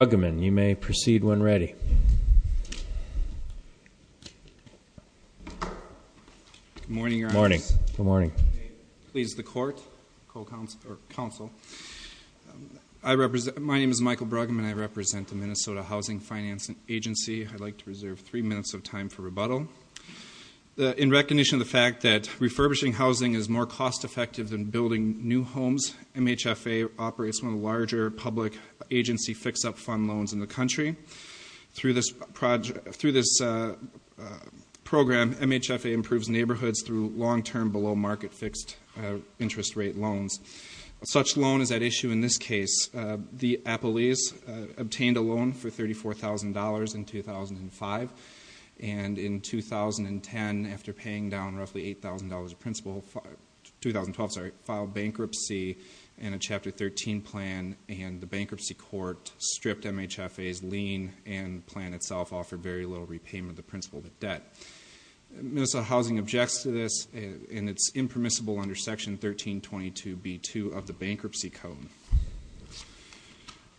Michael Bruggeman, you may proceed when ready. Good morning, Your Honor. Good morning. Please, the Court, the Council. My name is Michael Bruggeman. I represent the Minnesota Housing Finance Agency. I'd like to reserve three minutes of time for rebuttal. In recognition of the fact that refurbishing housing is more cost-effective than building new homes, MHFA operates one of the larger public agency fix-up fund loans in the country. Through this program, MHFA improves neighborhoods through long-term below-market fixed interest rate loans. Such a loan is at issue in this case. The Appalese obtained a loan for $34,000 in 2005, and in 2010, after paying down roughly $8,000 of principal, 2012, sorry, filed bankruptcy in a Chapter 13 plan, and the bankruptcy court stripped MHFA's lien, and the plan itself offered very little repayment of the principal debt. Minnesota Housing objects to this, and it's impermissible under Section 1322b2 of the Bankruptcy Code.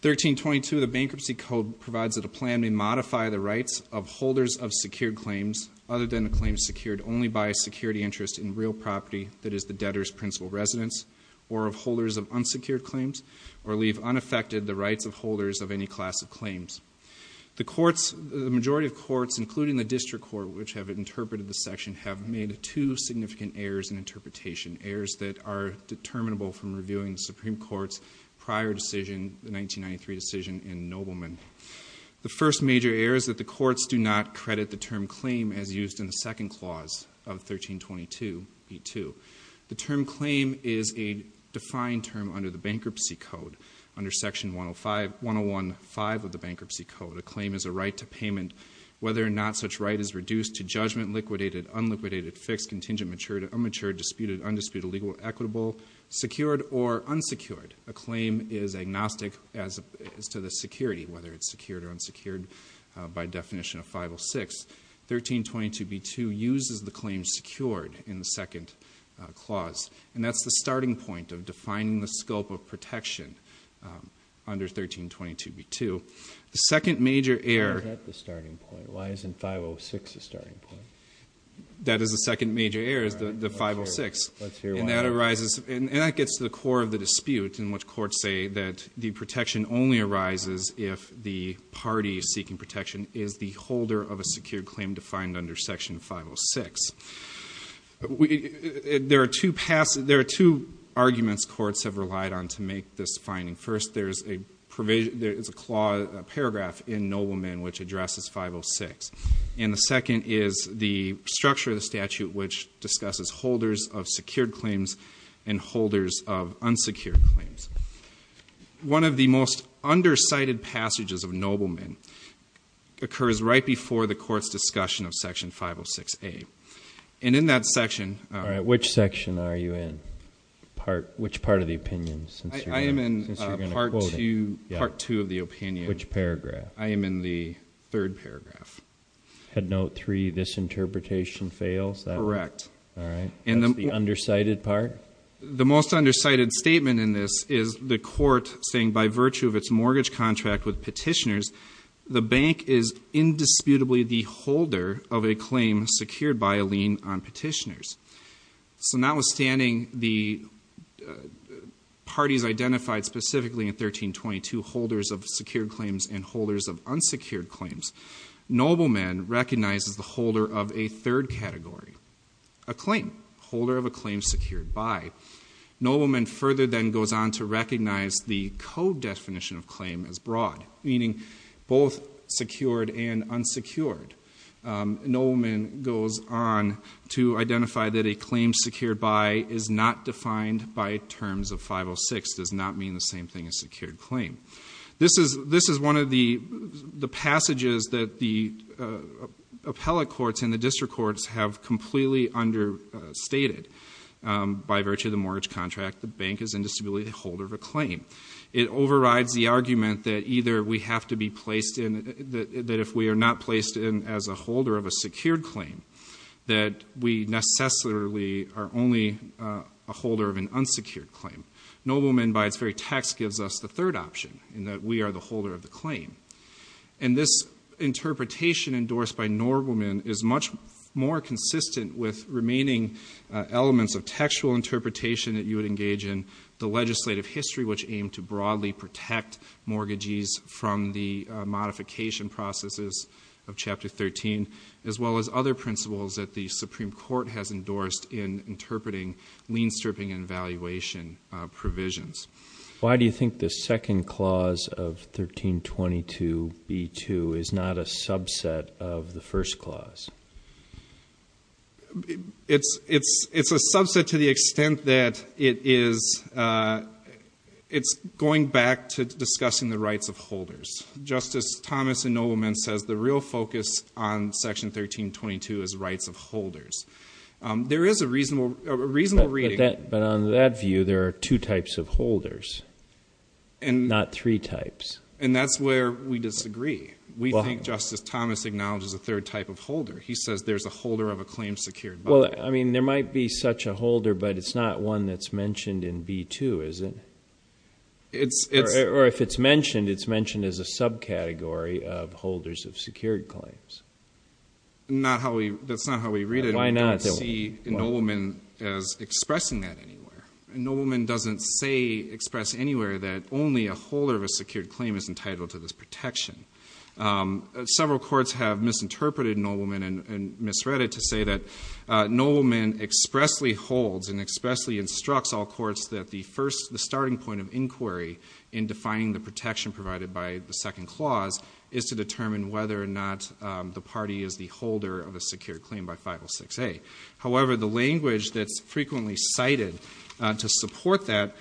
1322 of the Bankruptcy Code provides that a plan may modify the rights of holders of secured claims other than the claims secured only by a security interest in real property, that is, the debtor's principal residence, or of holders of unsecured claims, or leave unaffected the rights of holders of any class of claims. The majority of courts, including the District Court, which have interpreted this section, have made two significant errors in interpretation, errors that are determinable from reviewing the Supreme Court's prior decision, the 1993 decision in Nobleman. The first major error is that the courts do not credit the term claim as used in the second clause of 1322b2. The term claim is a defined term under the Bankruptcy Code, under Section 105 of the Bankruptcy Code. A claim is a right to payment whether or not such right is reduced to judgment, liquidated, unliquidated, fixed, contingent, matured, immatured, disputed, undisputed, illegal, equitable, secured, or unsecured. A claim is agnostic as to the security, whether it's secured or unsecured, by definition of 506. 1322b2 uses the claim secured in the second clause, and that's the starting point of defining the scope of protection under 1322b2. The second major error... Why is that the starting point? Why isn't 506 the starting point? That is the second major error, is the 506. And that arises, and that gets to the core of the dispute, in which courts say that the protection only arises if the party seeking protection is the holder of a secured claim defined under Section 506. There are two arguments courts have relied on to make this finding. First, there is a paragraph in Nobleman which addresses 506. And the second is the structure of the statute which discusses holders of secured claims and holders of unsecured claims. One of the most under-cited passages of Nobleman occurs right before the court's discussion of Section 506a. And in that section... All right, which section are you in? Which part of the opinion? I am in Part 2 of the opinion. Which paragraph? I am in the third paragraph. Had note 3, this interpretation fails? Correct. All right. That's the under-cited part? The most under-cited statement in this is the court saying, by virtue of its mortgage contract with petitioners, the bank is indisputably the holder of a claim secured by a lien on petitioners. So notwithstanding the parties identified specifically in 1322, holders of secured claims and holders of unsecured claims, Nobleman recognizes the holder of a third category, a claim, holder of a claim secured by. Nobleman further then goes on to recognize the code definition of claim as broad, meaning both secured and unsecured. Nobleman goes on to identify that a claim secured by is not defined by terms of 506, does not mean the same thing as secured claim. This is one of the passages that the appellate courts and the district courts have completely understated. By virtue of the mortgage contract, the bank is indisputably the holder of a claim. It overrides the argument that either we have to be placed in... that if we are not placed in as a holder of a secured claim, that we necessarily are only a holder of an unsecured claim. Nobleman, by its very text, gives us the third option, in that we are the holder of the claim. And this interpretation endorsed by Nobleman is much more consistent with remaining elements of textual interpretation that you would engage in the legislative history, which aimed to broadly protect mortgages from the modification processes of Chapter 13, as well as other principles that the Supreme Court has endorsed in interpreting lien stripping and valuation provisions. Why do you think the second clause of 1322b2 is not a subset of the first clause? It's a subset to the extent that it's going back to discussing the rights of holders. Justice Thomas in Nobleman says the real focus on Section 1322 is rights of holders. There is a reasonable reading... But on that view, there are two types of holders, not three types. And that's where we disagree. We think Justice Thomas acknowledges a third type of holder. He says there's a holder of a claim secured by it. Well, I mean, there might be such a holder, but it's not one that's mentioned in b2, is it? Or if it's mentioned, it's mentioned as a subcategory of holders of secured claims. That's not how we read it. I don't see Nobleman as expressing that anywhere. Nobleman doesn't say, express anywhere, that only a holder of a secured claim is entitled to this protection. Several courts have misinterpreted Nobleman and misread it to say that Nobleman expressly holds and expressly instructs all courts that the starting point of inquiry in defining the protection provided by the second clause is to determine whether or not the party is the holder of a secured claim by 506A. However, the language that's frequently cited to support that,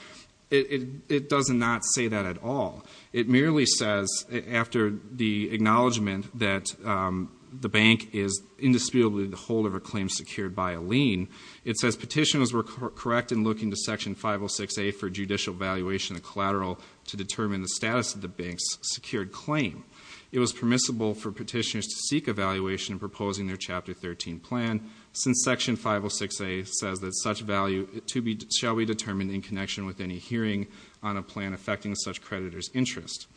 it does not say that at all. It merely says, after the acknowledgment that the bank is indisputably the holder of a claim secured by a lien, it says petitioners were correct in looking to Section 506A for judicial evaluation of collateral to determine the status of the bank's secured claim. It was permissible for petitioners to seek evaluation in proposing their Chapter 13 plan since Section 506A says that such value shall be determined in connection with any hearing on a plan affecting such creditor's interest.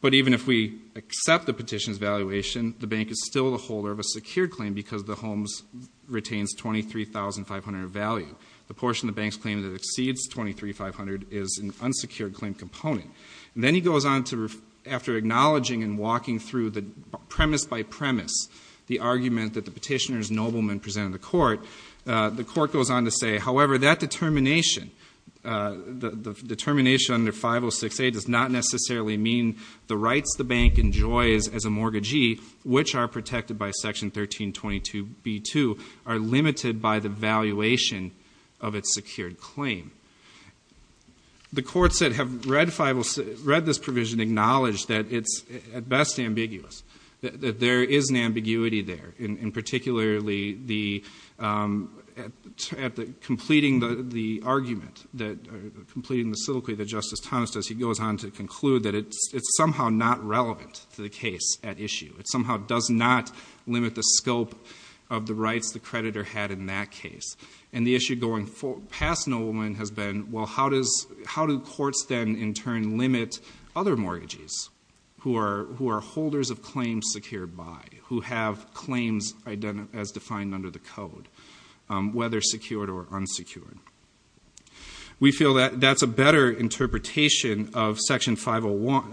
But even if we accept the petition's valuation, the bank is still the holder of a secured claim because the homes retains $23,500 of value. The portion of the bank's claim that exceeds $23,500 is an unsecured claim component. Then he goes on to, after acknowledging and walking through the premise by premise, the argument that the petitioner's nobleman presented to court, the court goes on to say, however, that determination, the determination under 506A does not necessarily mean the rights the bank enjoys as a mortgagee, which are protected by Section 1322B2, are limited by the valuation of its secured claim. The courts that have read this provision acknowledge that it's at best ambiguous, that there is an ambiguity there, and particularly completing the argument, completing the soliloquy that Justice Thomas does, he goes on to conclude that it's somehow not relevant to the case at issue. It somehow does not limit the scope of the rights the creditor had in that case. And the issue going past nobleman has been, well, how do courts then, in turn, limit other mortgages who are holders of claims secured by, who have claims as defined under the code, whether secured or unsecured? We feel that that's a better interpretation of what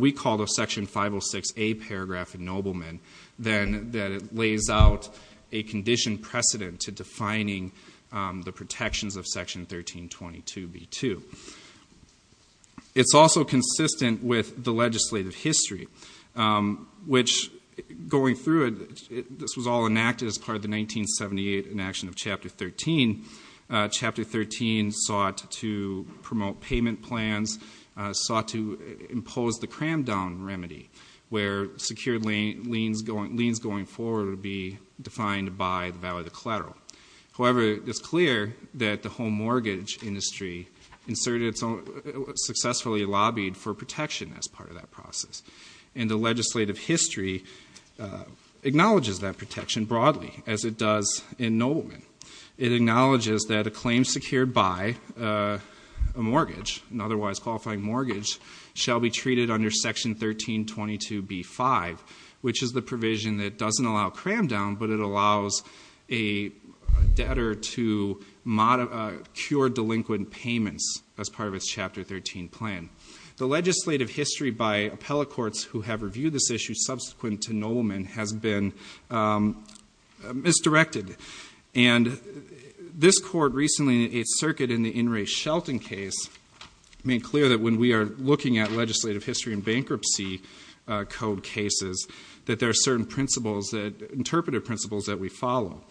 we call the Section 506A paragraph in nobleman than that it lays out a condition precedent to defining the protections of Section 1322B2. It's also consistent with the legislative history, which, going through it, this was all enacted as part of the 1978 enaction of Chapter 13. Chapter 13 sought to promote payment plans, sought to impose the cram-down remedy, where secured liens going forward would be defined by the value of the collateral. However, it's clear that the home mortgage industry successfully lobbied for protection as part of that process. And the legislative history acknowledges that protection broadly, as it does in nobleman. It acknowledges that a claim secured by a mortgage, an otherwise qualifying mortgage, shall be treated under Section 1322B5, which is the provision that doesn't allow cram-down, but it allows a debtor to cure delinquent payments as part of its Chapter 13 plan. The legislative history by appellate courts who have reviewed this issue subsequent to nobleman has been misdirected. And this court recently in its circuit in the In Re Shelton case made clear that when we are looking at legislative history in bankruptcy code cases, that there are certain interpretive principles that we follow.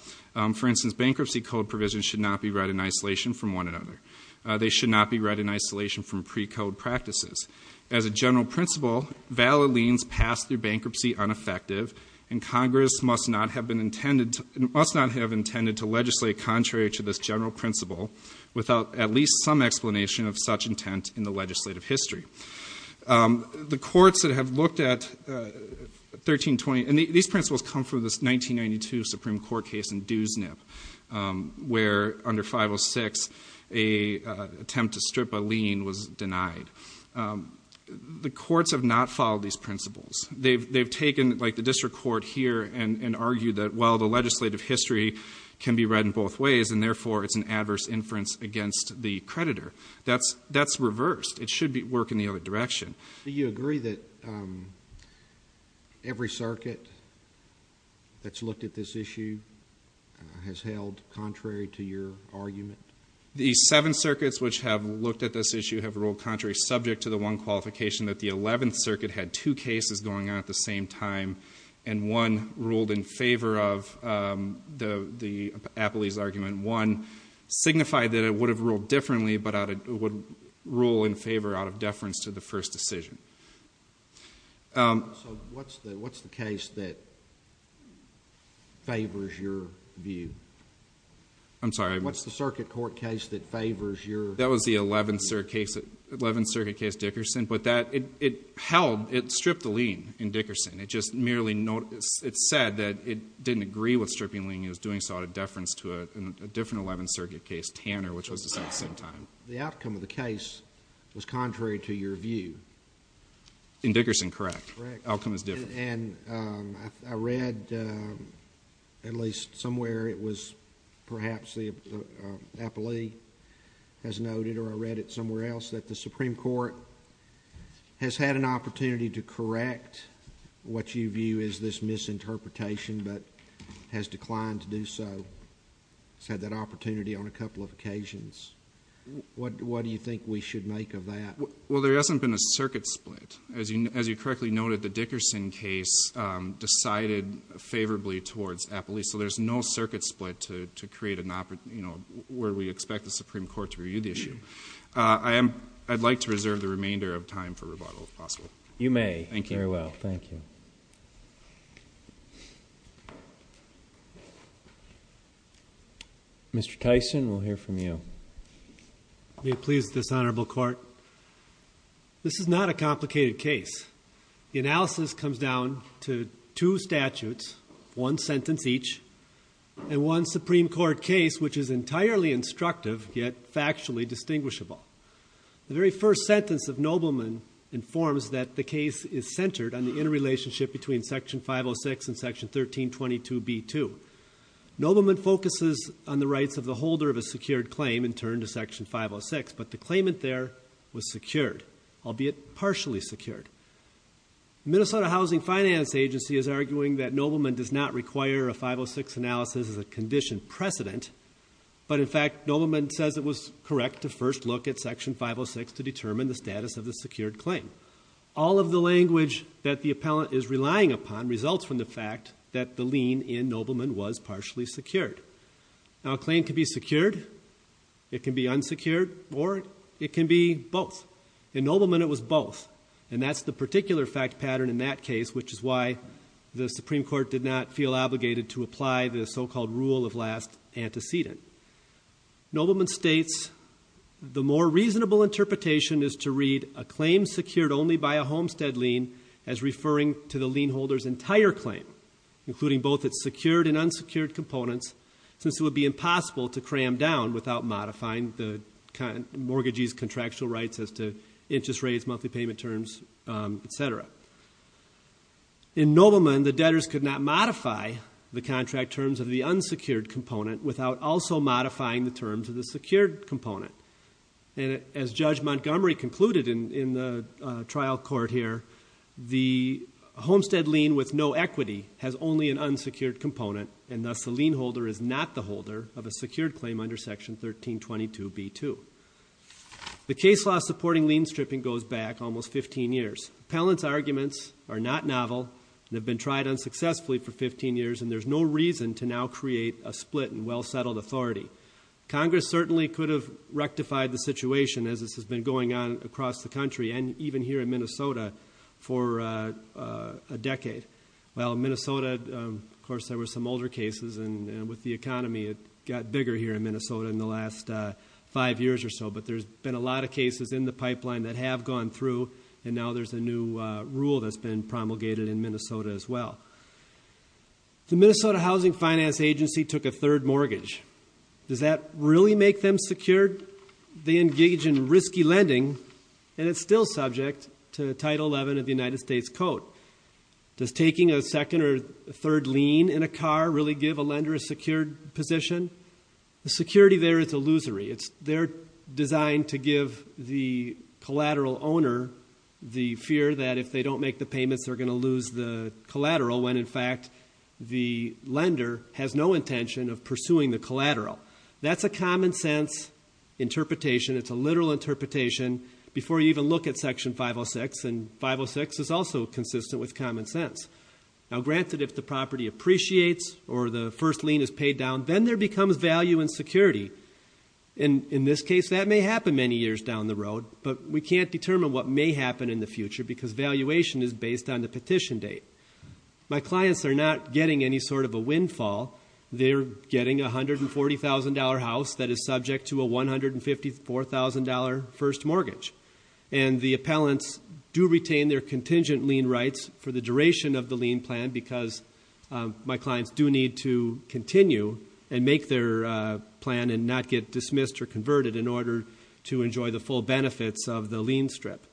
For instance, bankruptcy code provisions should not be read in isolation from one another. They should not be read in isolation from precode practices. As a general principle, valid liens passed through bankruptcy are ineffective, and Congress must not have intended to legislate contrary to this general principle without at least some explanation of such intent in the legislative history. The courts that have looked at 1320, and these principles come from this 1992 Supreme Court case in Dewsnip, where under 506, an attempt to strip a lien was denied. The courts have not followed these principles. The legislative history can be read in both ways, and therefore it's an adverse inference against the creditor. That's reversed. It should work in the other direction. Do you agree that every circuit that's looked at this issue has held contrary to your argument? The seven circuits which have looked at this issue have ruled contrary, subject to the one qualification that the 11th Circuit had two cases going on at the same time, and one ruled in favor of the Appley's argument. One signified that it would have ruled differently, but it would rule in favor out of deference to the first decision. What's the case that favors your view? I'm sorry? What's the circuit court case that favors your view? That was the 11th Circuit case Dickerson, but it stripped the lien in Dickerson. It just merely said that it didn't agree with stripping the lien. It was doing so out of deference to a different 11th Circuit case, Tanner, which was decided at the same time. The outcome of the case was contrary to your view? In Dickerson, correct. Correct. The outcome is different. I read at least somewhere it was perhaps the Appley has noted, or I read it somewhere else, that the Supreme Court has had an opportunity to correct what you view as this misinterpretation, but has declined to do so. It's had that opportunity on a couple of occasions. What do you think we should make of that? Well, there hasn't been a circuit split. As you correctly noted, the Dickerson case decided favorably towards Appley, so there's no circuit split to create an opportunity where we expect the Supreme Court to review the issue. I'd like to reserve the remainder of time for rebuttal, if possible. You may. Thank you. Very well. Thank you. Mr. Tyson, we'll hear from you. May it please this Honorable Court, this is not a complicated case. The analysis comes down to two statutes, one sentence each, and one Supreme Court case which is entirely instructive, yet factually distinguishable. The very first sentence of Nobleman informs that the case is centered on the interrelationship between Section 506 and Section 1322B2. Nobleman focuses on the rights of the holder of a secured claim, in turn, to Section 506, but the claimant there was secured, albeit partially secured. The Minnesota Housing Finance Agency is arguing that Nobleman does not require a 506 analysis as a condition precedent, but in fact, Nobleman says it was correct to first look at Section 506 to determine the status of the secured claim. All of the language that the appellant is relying upon results from the fact that the lien in Nobleman was partially secured. Now, a claim can be secured, it can be unsecured, or it can be both. In Nobleman, it was both, and that's the particular fact pattern in that case, which is why the Supreme Court did not feel obligated to apply the so-called rule of last antecedent. Nobleman states the more reasonable interpretation is to read a claim secured only by a homestead lien as referring to the lien holder's entire claim, including both its secured and unsecured components, since it would be impossible to cram down without modifying the mortgagee's contractual rights as to interest rates, monthly payment terms, etc. In Nobleman, the debtors could not modify the contract terms of the unsecured component without also modifying the terms of the secured component. As Judge Montgomery concluded in the trial court here, the homestead lien with no equity has only an unsecured component, and thus the lien holder is not the holder of a secured claim under Section 1322B2. The case law supporting lien stripping goes back almost 15 years. Appellant's arguments are not novel and have been tried unsuccessfully for 15 years, and there's no reason to now create a split in well-settled authority. Congress certainly could have rectified the situation as this has been going on across the country and even here in Minnesota for a decade. Well, in Minnesota, of course, there were some older cases, and with the economy it got bigger here in Minnesota in the last five years or so, but there's been a lot of cases in the pipeline that have gone through, and now there's a new rule that's been promulgated in Minnesota as well. The Minnesota Housing Finance Agency took a third mortgage. Does that really make them secured? They engage in risky lending, and it's still subject to Title XI of the United States Code. Does taking a second or third lien in a car really give a lender a secured position? The security there is illusory. They're designed to give the collateral owner the fear that if they don't make the payments, they're going to lose the collateral when, in fact, the lender has no intention of pursuing the collateral. That's a common-sense interpretation. It's a literal interpretation before you even look at Section 506, and 506 is also consistent with common sense. Now, granted, if the property appreciates or the first lien is paid down, then there becomes value and security. In this case, that may happen many years down the road, but we can't determine what may happen in the future because valuation is based on the petition date. My clients are not getting any sort of a windfall. They're getting a $140,000 house that is subject to a $154,000 first mortgage, and the appellants do retain their contingent lien rights for the duration of the lien plan because my clients do need to continue and make their plan and not get dismissed or converted in order to enjoy the full benefits of the lien strip.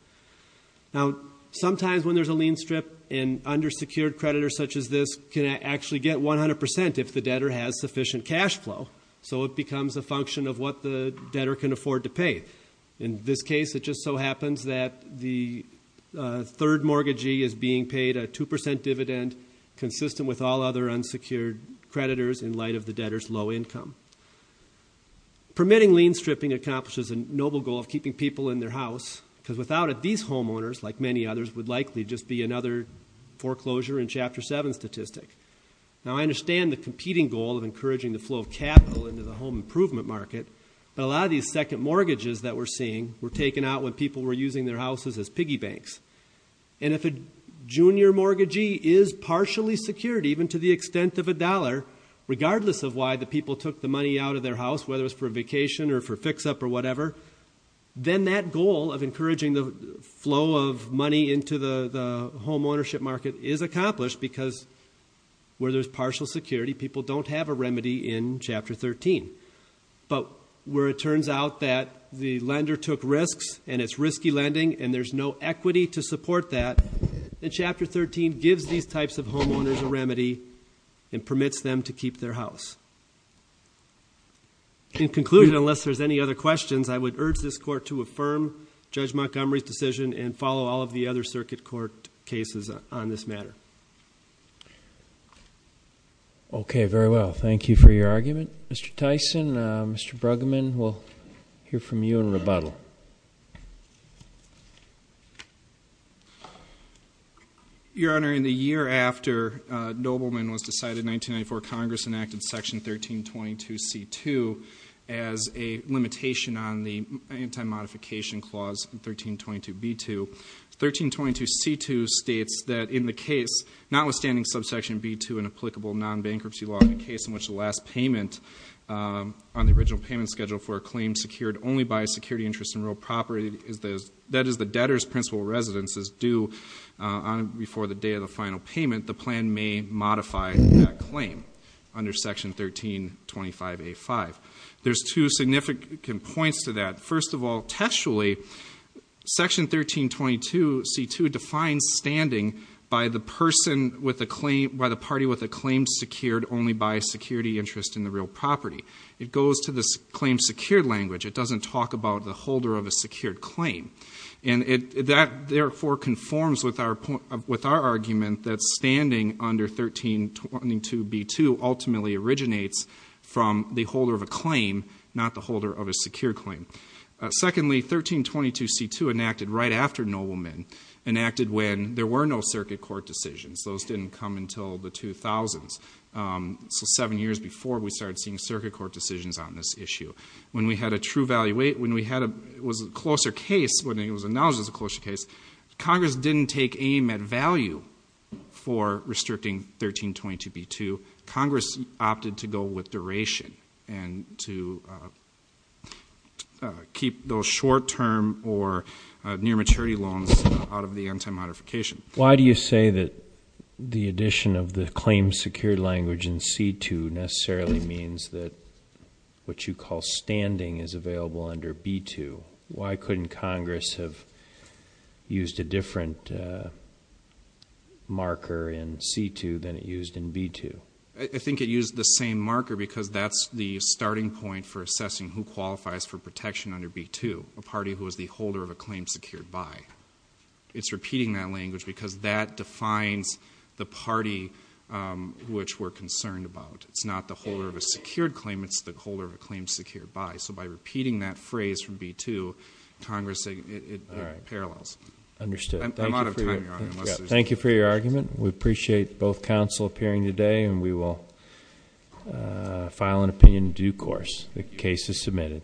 Now, sometimes when there's a lien strip, an undersecured creditor such as this can actually get 100% if the debtor has sufficient cash flow, so it becomes a function of what the debtor can afford to pay. In this case, it just so happens that the third mortgagee is being paid a 2% dividend consistent with all other unsecured creditors in light of the debtor's low income. Permitting lien stripping accomplishes a noble goal of keeping people in their house because without it, these homeowners, like many others, would likely just be another foreclosure in Chapter 7 statistic. Now, I understand the competing goal of encouraging the flow of capital into the home improvement market, but a lot of these second mortgages that we're seeing were taken out when people were using their houses as piggy banks. And if a junior mortgagee is partially secured, even to the extent of a dollar, regardless of why the people took the money out of their house, whether it was for a vacation or for a fix-up or whatever, then that goal of encouraging the flow of money into the home ownership market is accomplished because where there's partial security, people don't have a remedy in Chapter 13. But where it turns out that the lender took risks and it's risky lending and there's no equity to support that, then Chapter 13 gives these types of homeowners a remedy and permits them to keep their house. In conclusion, unless there's any other questions, I would urge this Court to affirm Judge Montgomery's decision and follow all of the other circuit court cases on this matter. Okay, very well. Thank you for your argument, Mr. Tyson. Mr. Bruggeman, we'll hear from you in rebuttal. Your Honor, in the year after Nobleman was decided in 1994, Congress enacted Section 1322C2 as a limitation on the Anti-Modification Clause 1322B2. 1322C2 states that in the case, notwithstanding subsection B2 and applicable non-bankruptcy law in the case in which the last payment on the original payment schedule for a claim secured only by a security interest in real property, that is the debtor's principal residence, is due before the day of the final payment, the plan may modify that claim under Section 1325A5. There's two significant points to that. First of all, textually, Section 1322C2 defines standing by the party with a claim secured only by a security interest in the real property. It goes to the claim secured language. It doesn't talk about the holder of a secured claim. And that, therefore, conforms with our argument that standing under 1322B2 ultimately originates from the holder of a claim, not the holder of a secured claim. Secondly, 1322C2 enacted right after Nobleman, enacted when there were no circuit court decisions. Those didn't come until the 2000s, so seven years before we started seeing circuit court decisions on this issue. When we had a closer case, when it was announced as a closer case, Congress didn't take aim at value for restricting 1322B2. Congress opted to go with duration and to keep those short-term or near-maturity loans out of the anti-modification. Why do you say that the addition of the claim secured language in C2 necessarily means that what you call standing is available under B2? Why couldn't Congress have used a different marker in C2 than it used in B2? I think it used the same marker because that's the starting point for assessing who qualifies for protection under B2, a party who is the holder of a claim secured by. It's repeating that language because that defines the party which we're concerned about. It's not the holder of a secured claim. It's the holder of a claim secured by. So by repeating that phrase from B2, Congress said it parallels. I'm out of time, Your Honor. Thank you for your argument. We appreciate both counsel appearing today, and we will file an opinion in due course. The case is submitted.